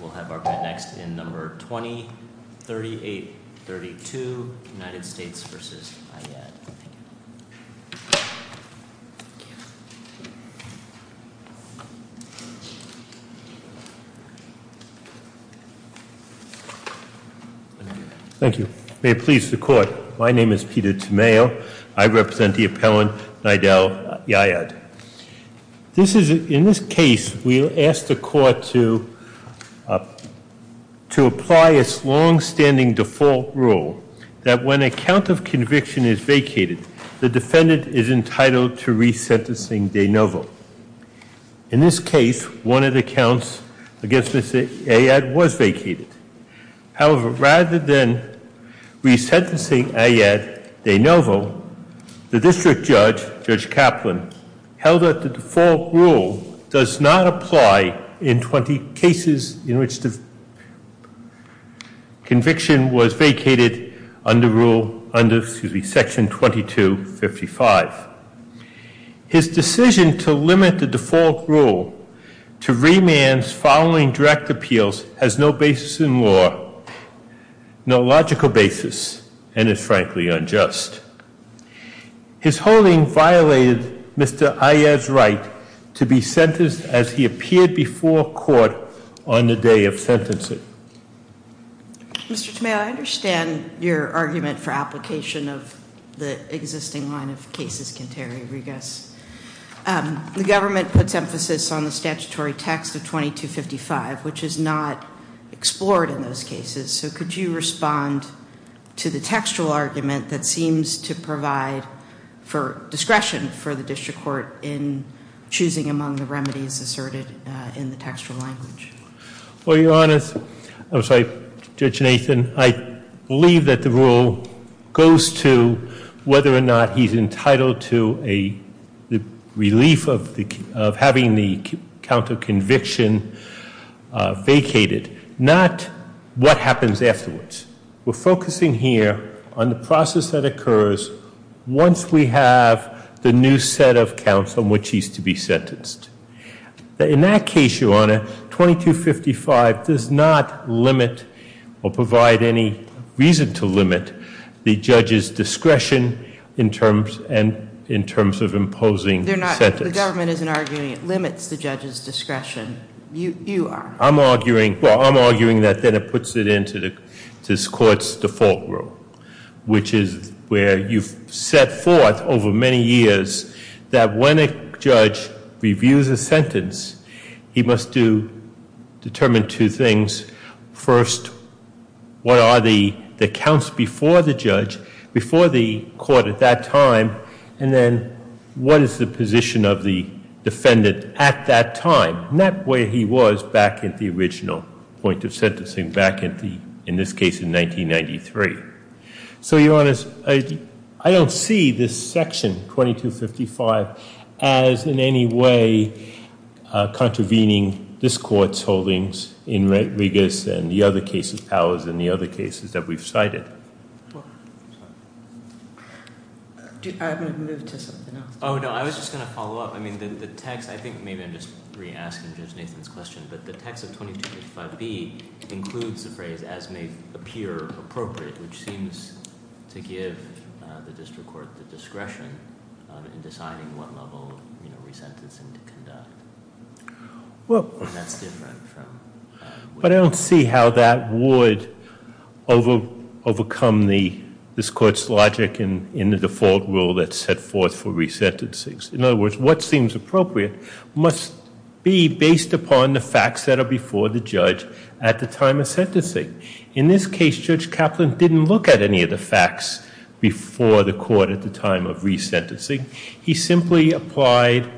We'll have our next in number 203832 United States v. Ayyad Thank you. May it please the court. My name is Peter Tamayo. I represent the appellant Nidal Ayyad. This is, in this case, we'll ask the court to apply its long-standing default rule that when a count of conviction is vacated, the defendant is entitled to resentencing de novo. In this case, one of the counts against Ms. Ayyad was vacated. However, rather than resentencing Ayyad de novo, the district judge, Judge Kaplan, held that the default rule does not apply in 20 cases in which the conviction was vacated under section 2255. His decision to limit the default rule to remands following direct appeals has no basis in law, no logical basis, and is frankly unjust. His holding violated Mr. Ayyad's right to be sentenced as he appeared before court on the day of sentencing. Mr. Tamayo, I understand your argument for application of the existing line of cases, Quinterio Riguez. The government puts emphasis on the statutory text of 2255, which is not explored in those cases. So could you respond to the textual argument that seems to provide for discretion for the district court in choosing among the remedies asserted in the textual language? Well, Your Honor, I'm sorry, Judge Nathan. I believe that the rule goes to whether or not he's entitled to a relief of having the count of conviction vacated, not what happens afterwards. We're focusing here on the process that occurs once we have the new set of counts on which he's to be sentenced. In that case, Your Honor, 2255 does not limit or provide any reason to limit the judge's discretion in terms of imposing sentence. The government isn't arguing it limits the judge's discretion. You are. I'm arguing that then it puts it into this court's default rule, which is where you've set forth over many years that when a judge reviews a sentence, he must determine two things. First, what are the counts before the judge, before the court at that time? And then what is the position of the defendant at that time? And that way he was back at the original point of sentencing, back at the, in this case, in 1993. So, Your Honor, I don't see this section, 2255, as in any way contravening this court's holdings in Regas and the other cases, Powers and the other cases that we've cited. I haven't moved to something else. Oh, no, I was just going to follow up. I mean, the text, I think maybe I'm just re-asking Judge Nathan's question, but the text of 2255B includes the phrase, as may appear appropriate, which seems to give the district court the discretion in deciding what level of resentencing to conduct. And that's different from- But I don't see how that would overcome this court's logic in the default rule that's set forth for resentencings. In other words, what seems appropriate must be based upon the facts that are before the judge at the time of sentencing. In this case, Judge Kaplan didn't look at any of the facts before the court at the time of resentencing. He simply applied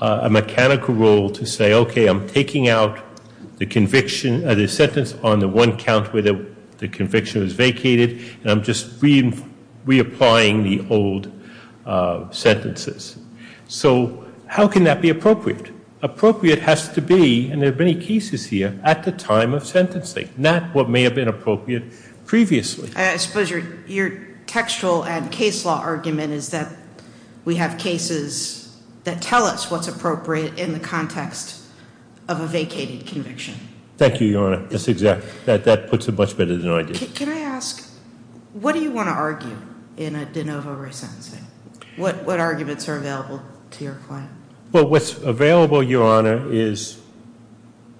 a mechanical rule to say, okay, I'm taking out the conviction, the sentence on the one count where the conviction was vacated, and I'm just reapplying the old sentences. So how can that be appropriate? Appropriate has to be, and there are many cases here, at the time of sentencing, not what may have been appropriate previously. I suppose your textual and case law argument is that we have cases that tell us what's appropriate in the context of a vacated conviction. Thank you, Your Honor. That puts it much better than I did. Can I ask, what do you want to argue in a de novo resentencing? What arguments are available to your client? Well, what's available, Your Honor, is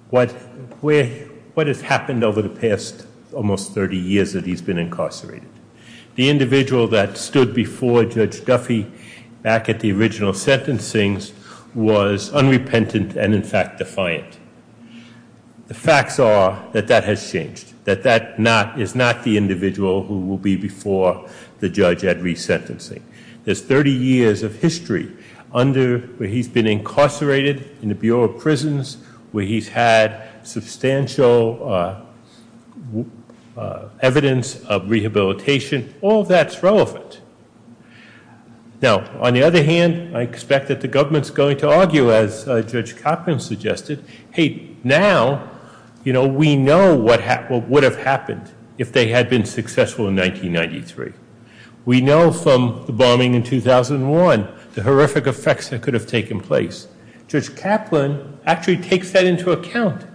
what has happened over the past almost 30 years that he's been incarcerated. The individual that stood before Judge Duffy back at the original sentencing was unrepentant and, in fact, defiant. The facts are that that has changed, that that is not the individual who will be before the judge at resentencing. There's 30 years of history under where he's been incarcerated in the Bureau of Prisons, where he's had substantial evidence of rehabilitation. All that's relevant. Now, on the other hand, I expect that the government's going to argue, as Judge Cochran suggested, hey, now, you know, we know what would have happened if they had been successful in 1993. We know from the bombing in 2001 the horrific effects that could have taken place. Judge Kaplan actually takes that into account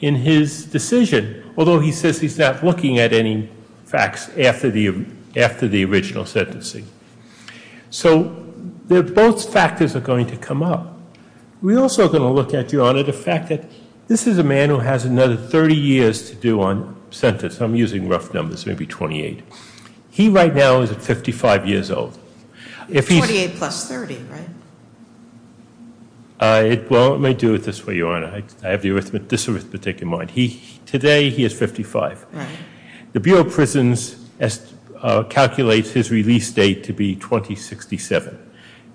in his decision, although he says he's not looking at any facts after the original sentencing. So both factors are going to come up. We're also going to look at, Your Honor, the fact that this is a man who has another 30 years to do on sentence. I'm using rough numbers, maybe 28. He right now is 55 years old. 28 plus 30, right? Well, let me do it this way, Your Honor. I have the arithmetic, this arithmetic in mind. Today he is 55. The Bureau of Prisons calculates his release date to be 2067,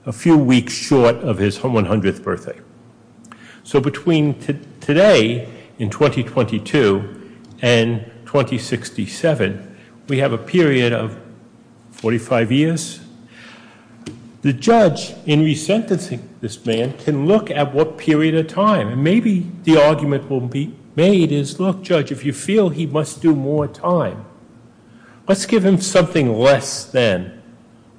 a few weeks short of his 100th birthday. So between today, in 2022, and 2067, we have a period of 45 years. The judge, in resentencing this man, can look at what period of time, and maybe the argument will be made is, look, Judge, if you feel he must do more time, let's give him something less than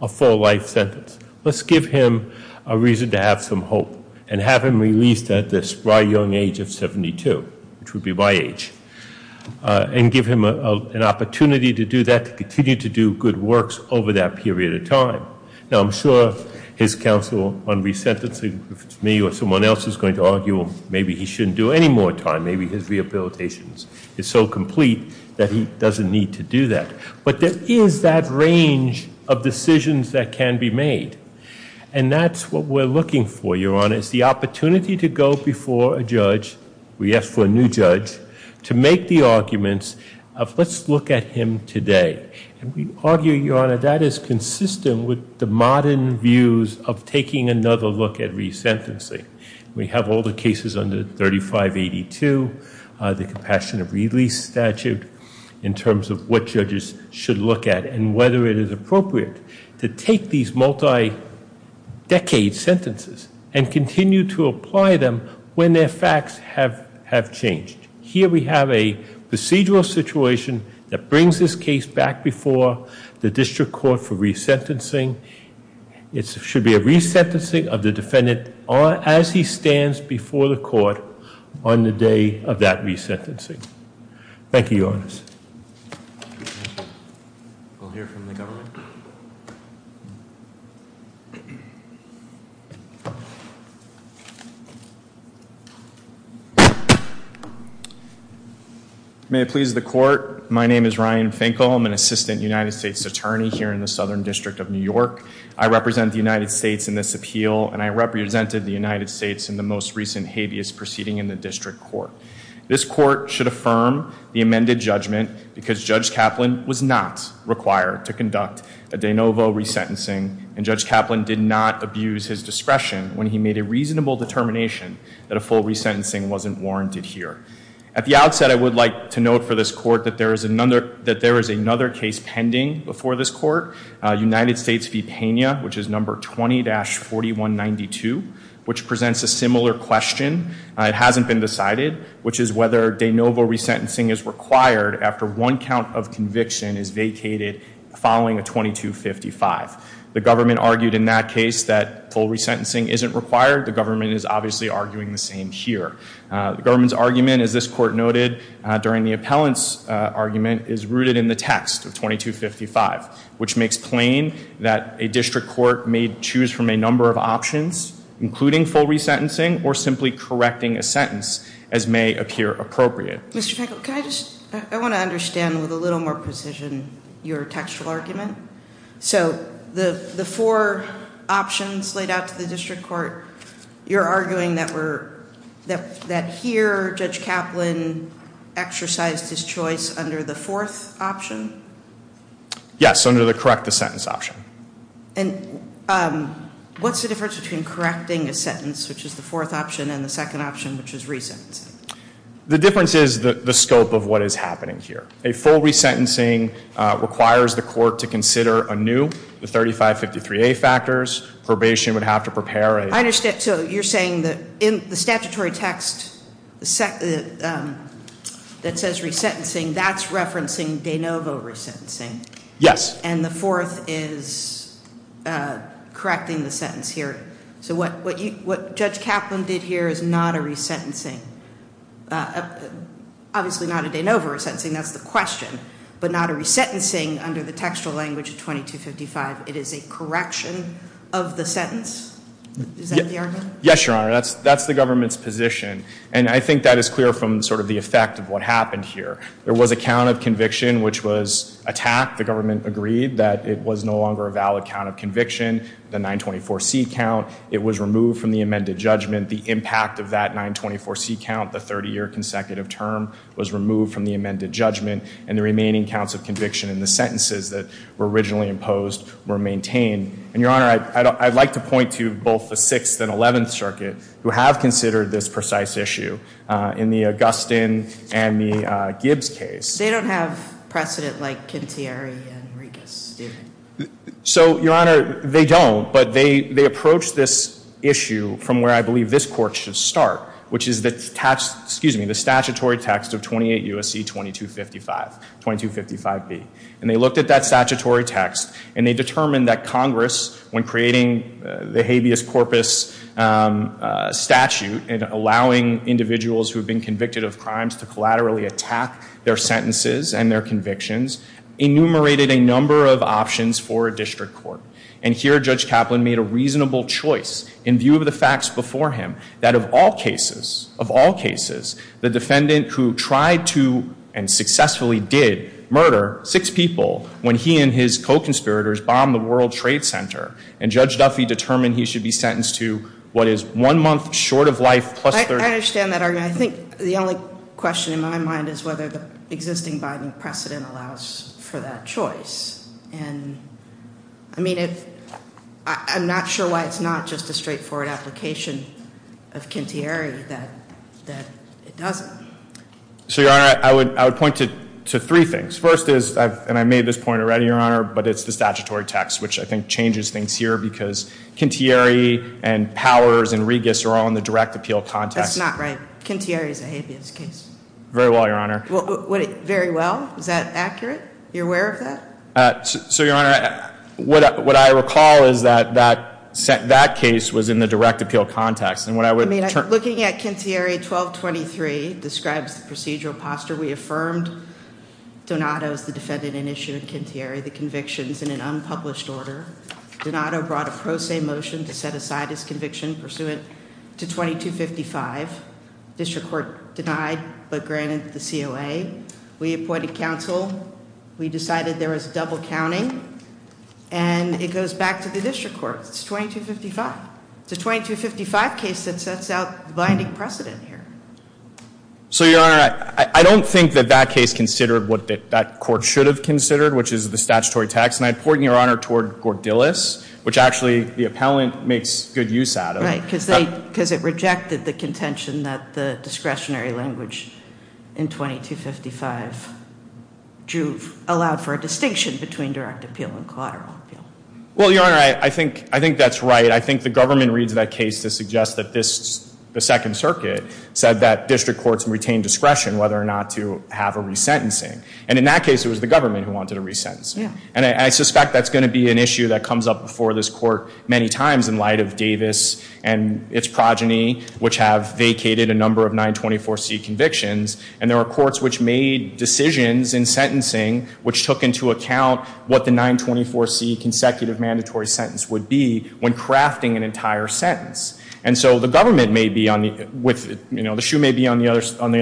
a full-life sentence. Let's give him a reason to have some hope and have him released at this bright young age of 72, which would be my age, and give him an opportunity to do that, to continue to do good works over that period of time. Now, I'm sure his counsel on resentencing me or someone else is going to argue, well, maybe he shouldn't do any more time. Maybe his rehabilitation is so complete that he doesn't need to do that. But there is that range of decisions that can be made, and that's what we're looking for, Your Honor, is the opportunity to go before a judge, we ask for a new judge, to make the arguments of let's look at him today. And we argue, Your Honor, that is consistent with the modern views of taking another look at resentencing. We have all the cases under 3582, the Compassionate Release Statute, in terms of what judges should look at and whether it is appropriate to take these multi-decade sentences and continue to apply them when their facts have changed. Here we have a procedural situation that brings this case back before the district court for resentencing. It should be a resentencing of the defendant as he stands before the court on the day of that resentencing. Thank you, Your Honor. May it please the court, my name is Ryan Finkel. I'm an assistant United States attorney here in the Southern District of New York. I represent the United States in this appeal, and I represented the United States in the most recent habeas proceeding in the district court. This court should affirm the amended judgment because Judge Kaplan was not required to conduct a de novo resentencing. And Judge Kaplan did not abuse his discretion when he made a reasonable determination that a full resentencing wasn't warranted here. At the outset, I would like to note for this court that there is another case pending before this court, United States v. Pena, which is number 20-4192, which presents a similar question. It hasn't been decided, which is whether de novo resentencing is required after one count of conviction is vacated following a 2255. The government argued in that case that full resentencing isn't required. The government is obviously arguing the same here. The government's argument, as this court noted during the appellant's argument, is rooted in the text of 2255, which makes plain that a district court may choose from a number of options, including full resentencing or simply correcting a sentence, as may appear appropriate. Mr. Finkel, can I just, I want to understand with a little more precision your textual argument. So the four options laid out to the district court, you're arguing that here Judge Kaplan exercised his choice under the fourth option? Yes, under the correct the sentence option. And what's the difference between correcting a sentence, which is the fourth option, and the second option, which is resentencing? The difference is the scope of what is happening here. A full resentencing requires the court to consider anew the 3553A factors. Probation would have to prepare. I understand. So you're saying that in the statutory text that says resentencing, that's referencing de novo resentencing. Yes. And the fourth is correcting the sentence here. So what Judge Kaplan did here is not a resentencing, obviously not a de novo resentencing. That's the question. But not a resentencing under the textual language of 2255. It is a correction of the sentence. Is that the argument? Yes, Your Honor. That's the government's position. And I think that is clear from sort of the effect of what happened here. There was a count of conviction, which was attacked. The government agreed that it was no longer a valid count of conviction, the 924C count. It was removed from the amended judgment. The impact of that 924C count, the 30-year consecutive term, was removed from the amended judgment. And the remaining counts of conviction in the sentences that were originally imposed were maintained. And, Your Honor, I'd like to point to both the Sixth and Eleventh Circuit who have considered this precise issue. In the Augustin and the Gibbs case. They don't have precedent like Kintieri and Regas, do they? So, Your Honor, they don't. But they approach this issue from where I believe this court should start, which is the statutory text of 28 U.S.C. 2255, 2255B. And they looked at that statutory text. And they determined that Congress, when creating the habeas corpus statute and allowing individuals who have been convicted of crimes to collaterally attack their sentences and their convictions, enumerated a number of options for a district court. And here, Judge Kaplan made a reasonable choice, in view of the facts before him, that of all cases, of all cases, the defendant who tried to, and successfully did, murder six people when he and his co-conspirators bombed the World Trade Center, and Judge Duffy determined he should be sentenced to what is one month short of life plus 30 years. I understand that argument. I think the only question in my mind is whether the existing Biden precedent allows for that choice. And, I mean, I'm not sure why it's not just a straightforward application of Kintieri that it doesn't. So, Your Honor, I would point to three things. First is, and I made this point already, Your Honor, but it's the statutory text, which I think changes things here because Kintieri and Powers and Regas are all in the direct appeal context. That's not right. Kintieri is a habeas case. Very well, Your Honor. Very well? Is that accurate? You're aware of that? So, Your Honor, what I recall is that that case was in the direct appeal context. I mean, looking at Kintieri 1223 describes the procedural posture. We affirmed Donato as the defendant in issue of Kintieri, the convictions, in an unpublished order. Donato brought a pro se motion to set aside his conviction pursuant to 2255. District court denied but granted the COA. We appointed counsel. We decided there was double counting. And it goes back to the district court. It's 2255. It's a 2255 case that sets out the binding precedent here. So, Your Honor, I don't think that that case considered what that court should have considered, which is the statutory text. And I point, Your Honor, toward Gordillis, which actually the appellant makes good use out of. Right, because it rejected the contention that the discretionary language in 2255 allowed for a distinction between direct appeal and collateral appeal. Well, Your Honor, I think that's right. I think the government reads that case to suggest that the Second Circuit said that district courts retain discretion whether or not to have a resentencing. And in that case, it was the government who wanted a resentencing. And I suspect that's going to be an issue that comes up before this court many times in light of Davis and its progeny, which have vacated a number of 924C convictions. And there were courts which made decisions in sentencing which took into account what the 924C consecutive mandatory sentence would be when crafting an entire sentence. And so the government may be on the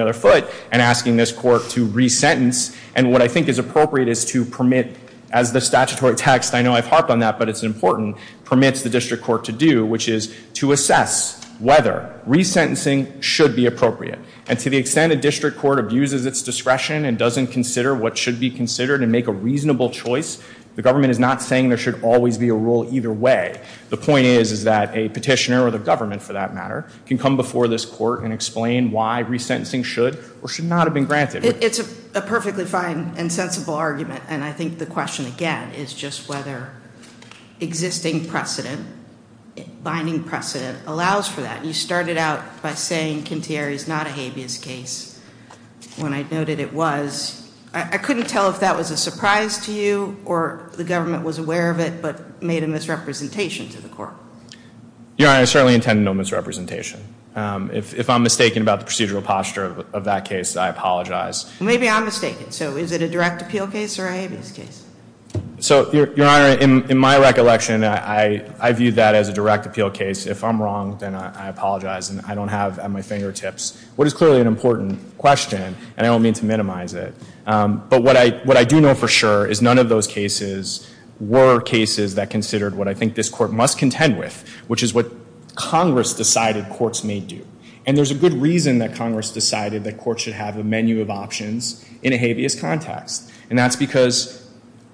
other foot and asking this court to resentence. And what I think is appropriate is to permit, as the statutory text, I know I've harped on that, but it's important, permits the district court to do, which is to assess whether resentencing should be appropriate. And to the extent a district court abuses its discretion and doesn't consider what should be considered and make a reasonable choice, the government is not saying there should always be a rule either way. The point is that a petitioner or the government, for that matter, can come before this court and explain why resentencing should or should not have been granted. It's a perfectly fine and sensible argument. And I think the question, again, is just whether existing precedent, binding precedent, allows for that. You started out by saying Kintieri is not a habeas case when I noted it was. I couldn't tell if that was a surprise to you or the government was aware of it but made a misrepresentation to the court. Your Honor, I certainly intend no misrepresentation. If I'm mistaken about the procedural posture of that case, I apologize. Maybe I'm mistaken. So is it a direct appeal case or a habeas case? So, Your Honor, in my recollection, I view that as a direct appeal case. If I'm wrong, then I apologize. And I don't have at my fingertips what is clearly an important question, and I don't mean to minimize it. But what I do know for sure is none of those cases were cases that considered what I think this court must contend with, which is what Congress decided courts may do. And there's a good reason that Congress decided that courts should have a menu of options in a habeas context. And that's because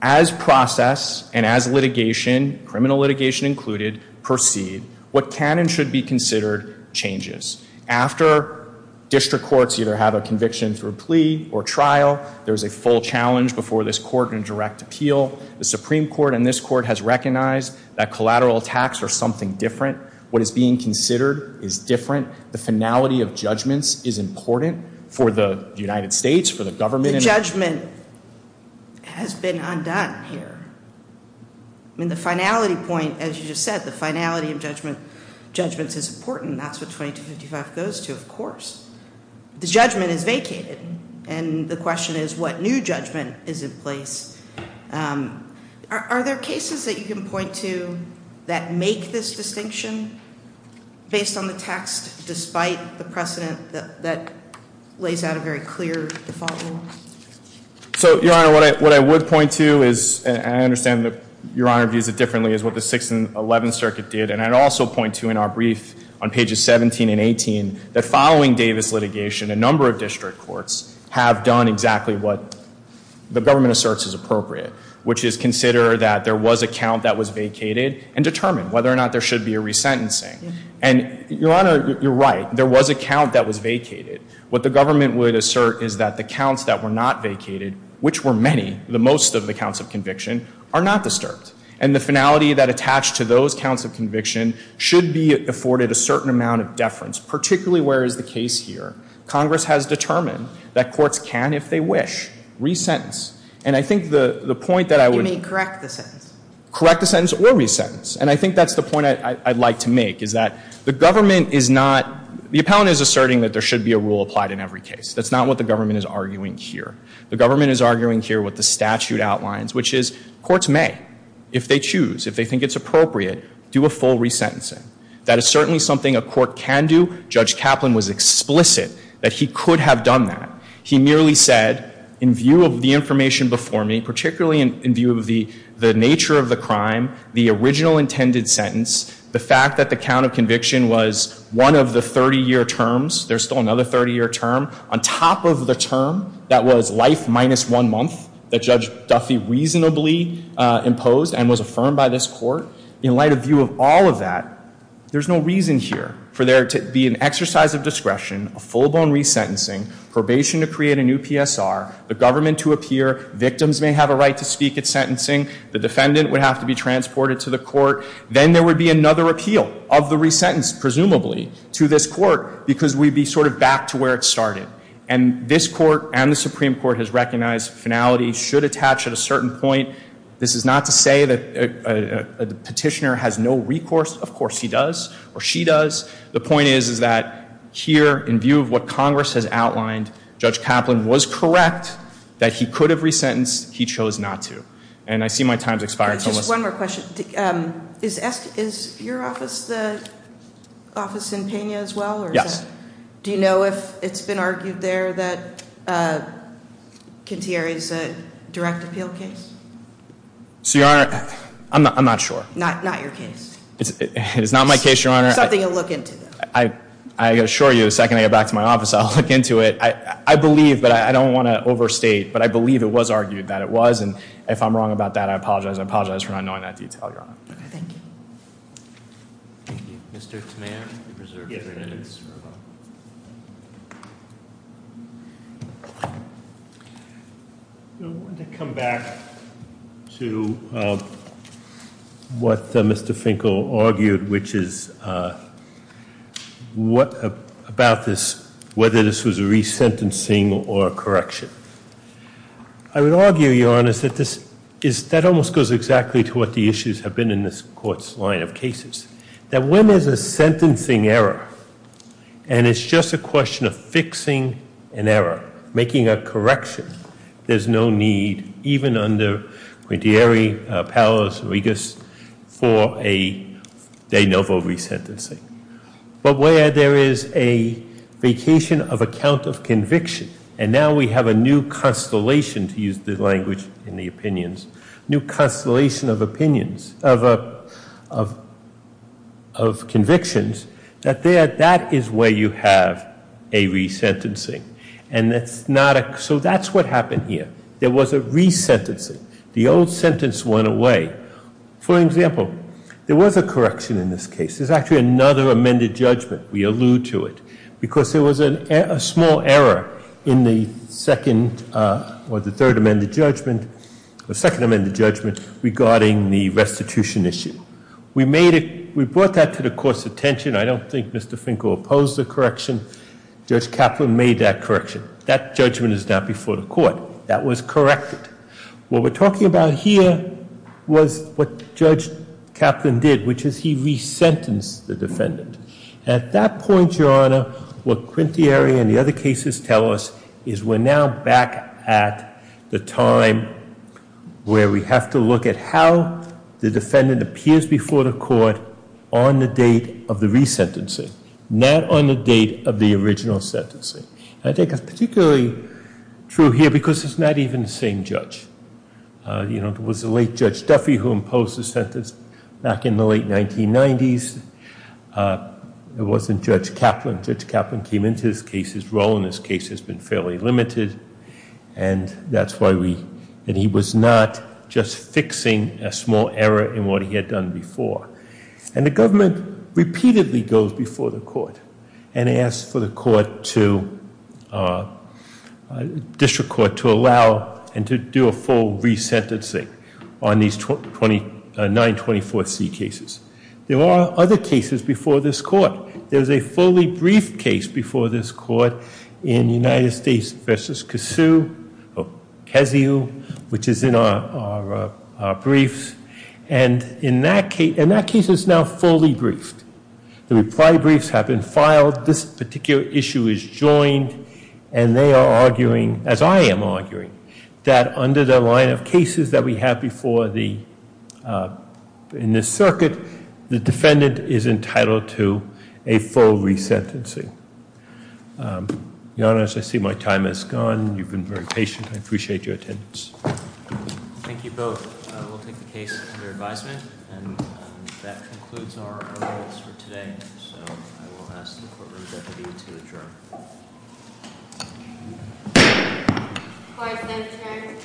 as process and as litigation, criminal litigation included, proceed, what can and should be considered changes. After district courts either have a conviction through plea or trial, there's a full challenge before this court in direct appeal. The Supreme Court and this court has recognized that collateral attacks are something different. What is being considered is different. The finality of judgments is important for the United States, for the government. The judgment has been undone here. I mean, the finality point, as you just said, the finality of judgments is important. That's what 2255 goes to, of course. The judgment is vacated, and the question is what new judgment is in place. Are there cases that you can point to that make this distinction based on the text, despite the precedent that lays out a very clear default rule? So, Your Honor, what I would point to is, and I understand that Your Honor views it differently, is what the 6th and 11th Circuit did. And I'd also point to in our brief on pages 17 and 18 that following Davis litigation, a number of district courts have done exactly what the government asserts is appropriate, which is consider that there was a count that was vacated and determine whether or not there should be a resentencing. And, Your Honor, you're right. There was a count that was vacated. What the government would assert is that the counts that were not vacated, which were many, the most of the counts of conviction, are not disturbed. And the finality that attached to those counts of conviction should be afforded a certain amount of deference, particularly where is the case here. Congress has determined that courts can, if they wish, resentence. And I think the point that I would... You may correct the sentence. Correct the sentence or resentence. And I think that's the point I'd like to make, is that the government is not... The appellant is asserting that there should be a rule applied in every case. That's not what the government is arguing here. The government is arguing here what the statute outlines, which is courts may, if they choose, if they think it's appropriate, do a full resentencing. That is certainly something a court can do. Judge Kaplan was explicit that he could have done that. He merely said, in view of the information before me, particularly in view of the nature of the crime, the original intended sentence, the fact that the count of conviction was one of the 30-year terms, there's still another 30-year term, on top of the term that was life minus one month, that Judge Duffy reasonably imposed and was affirmed by this court. In light of view of all of that, there's no reason here for there to be an exercise of discretion, a full-blown resentencing, probation to create a new PSR, the government to appear, victims may have a right to speak at sentencing, the defendant would have to be transported to the court. Then there would be another appeal of the resentence, presumably, to this court, because we'd be sort of back to where it started. And this court and the Supreme Court has recognized finality should attach at a certain point. This is not to say that a petitioner has no recourse. Of course he does, or she does. The point is, is that here, in view of what Congress has outlined, Judge Kaplan was correct that he could have resentenced. He chose not to. And I see my time's expired. Just one more question. Is your office the office in Pena as well? Yes. Do you know if it's been argued there that Kintiere is a direct appeal case? So, Your Honor, I'm not sure. Not your case? It is not my case, Your Honor. Something to look into, though. I assure you, the second I get back to my office, I'll look into it. I believe, but I don't want to overstate, but I believe it was argued that it was. And if I'm wrong about that, I apologize. I apologize for not knowing that detail, Your Honor. Thank you. Thank you. Mr. Toman, you're reserved three minutes. I want to come back to what Mr. Finkel argued, which is about this, whether this was a resentencing or a correction. I would argue, Your Honor, that this is, that almost goes exactly to what the issues have been in this Court's line of cases. That when there's a sentencing error, and it's just a question of fixing an error, making a correction, there's no need, even under Kintiere, Palos, Regas, for a de novo resentencing. But where there is a vacation of account of conviction, and now we have a new constellation, to use the language in the opinions, new constellation of opinions, of convictions, that there, that is where you have a resentencing. And that's not a, so that's what happened here. There was a resentencing. The old sentence went away. For example, there was a correction in this case. This is actually another amended judgment. We allude to it. Because there was a small error in the second, or the third amended judgment, the second amended judgment regarding the restitution issue. We made it, we brought that to the Court's attention. I don't think Mr. Finkel opposed the correction. Judge Kaplan made that correction. That judgment is now before the Court. That was corrected. What we're talking about here was what Judge Kaplan did, which is he resentenced the defendant. At that point, Your Honor, what Kintiere and the other cases tell us is we're now back at the time where we have to look at how the defendant appears before the Court on the date of the resentencing, not on the date of the original sentencing. I think it's particularly true here because it's not even the same judge. You know, it was the late Judge Duffy who imposed the sentence back in the late 1990s. It wasn't Judge Kaplan. Judge Kaplan came into this case. His role in this case has been fairly limited, and that's why we, and he was not just fixing a small error in what he had done before. And the government repeatedly goes before the Court and asks for the Court to, District Court to allow and to do a full resentencing on these 924C cases. There are other cases before this Court. There's a fully briefed case before this Court in United States v. Kasiu, which is in our briefs, and in that case it's now fully briefed. The reply briefs have been filed. This particular issue is joined, and they are arguing, as I am arguing, that under the line of cases that we have before the, in this circuit, the defendant is entitled to a full resentencing. Your Honor, as I see my time has gone. You've been very patient. I appreciate your attendance. Thank you both. We'll take the case under advisement, and that concludes our rolls for today. So I will ask the courtroom deputy to adjourn.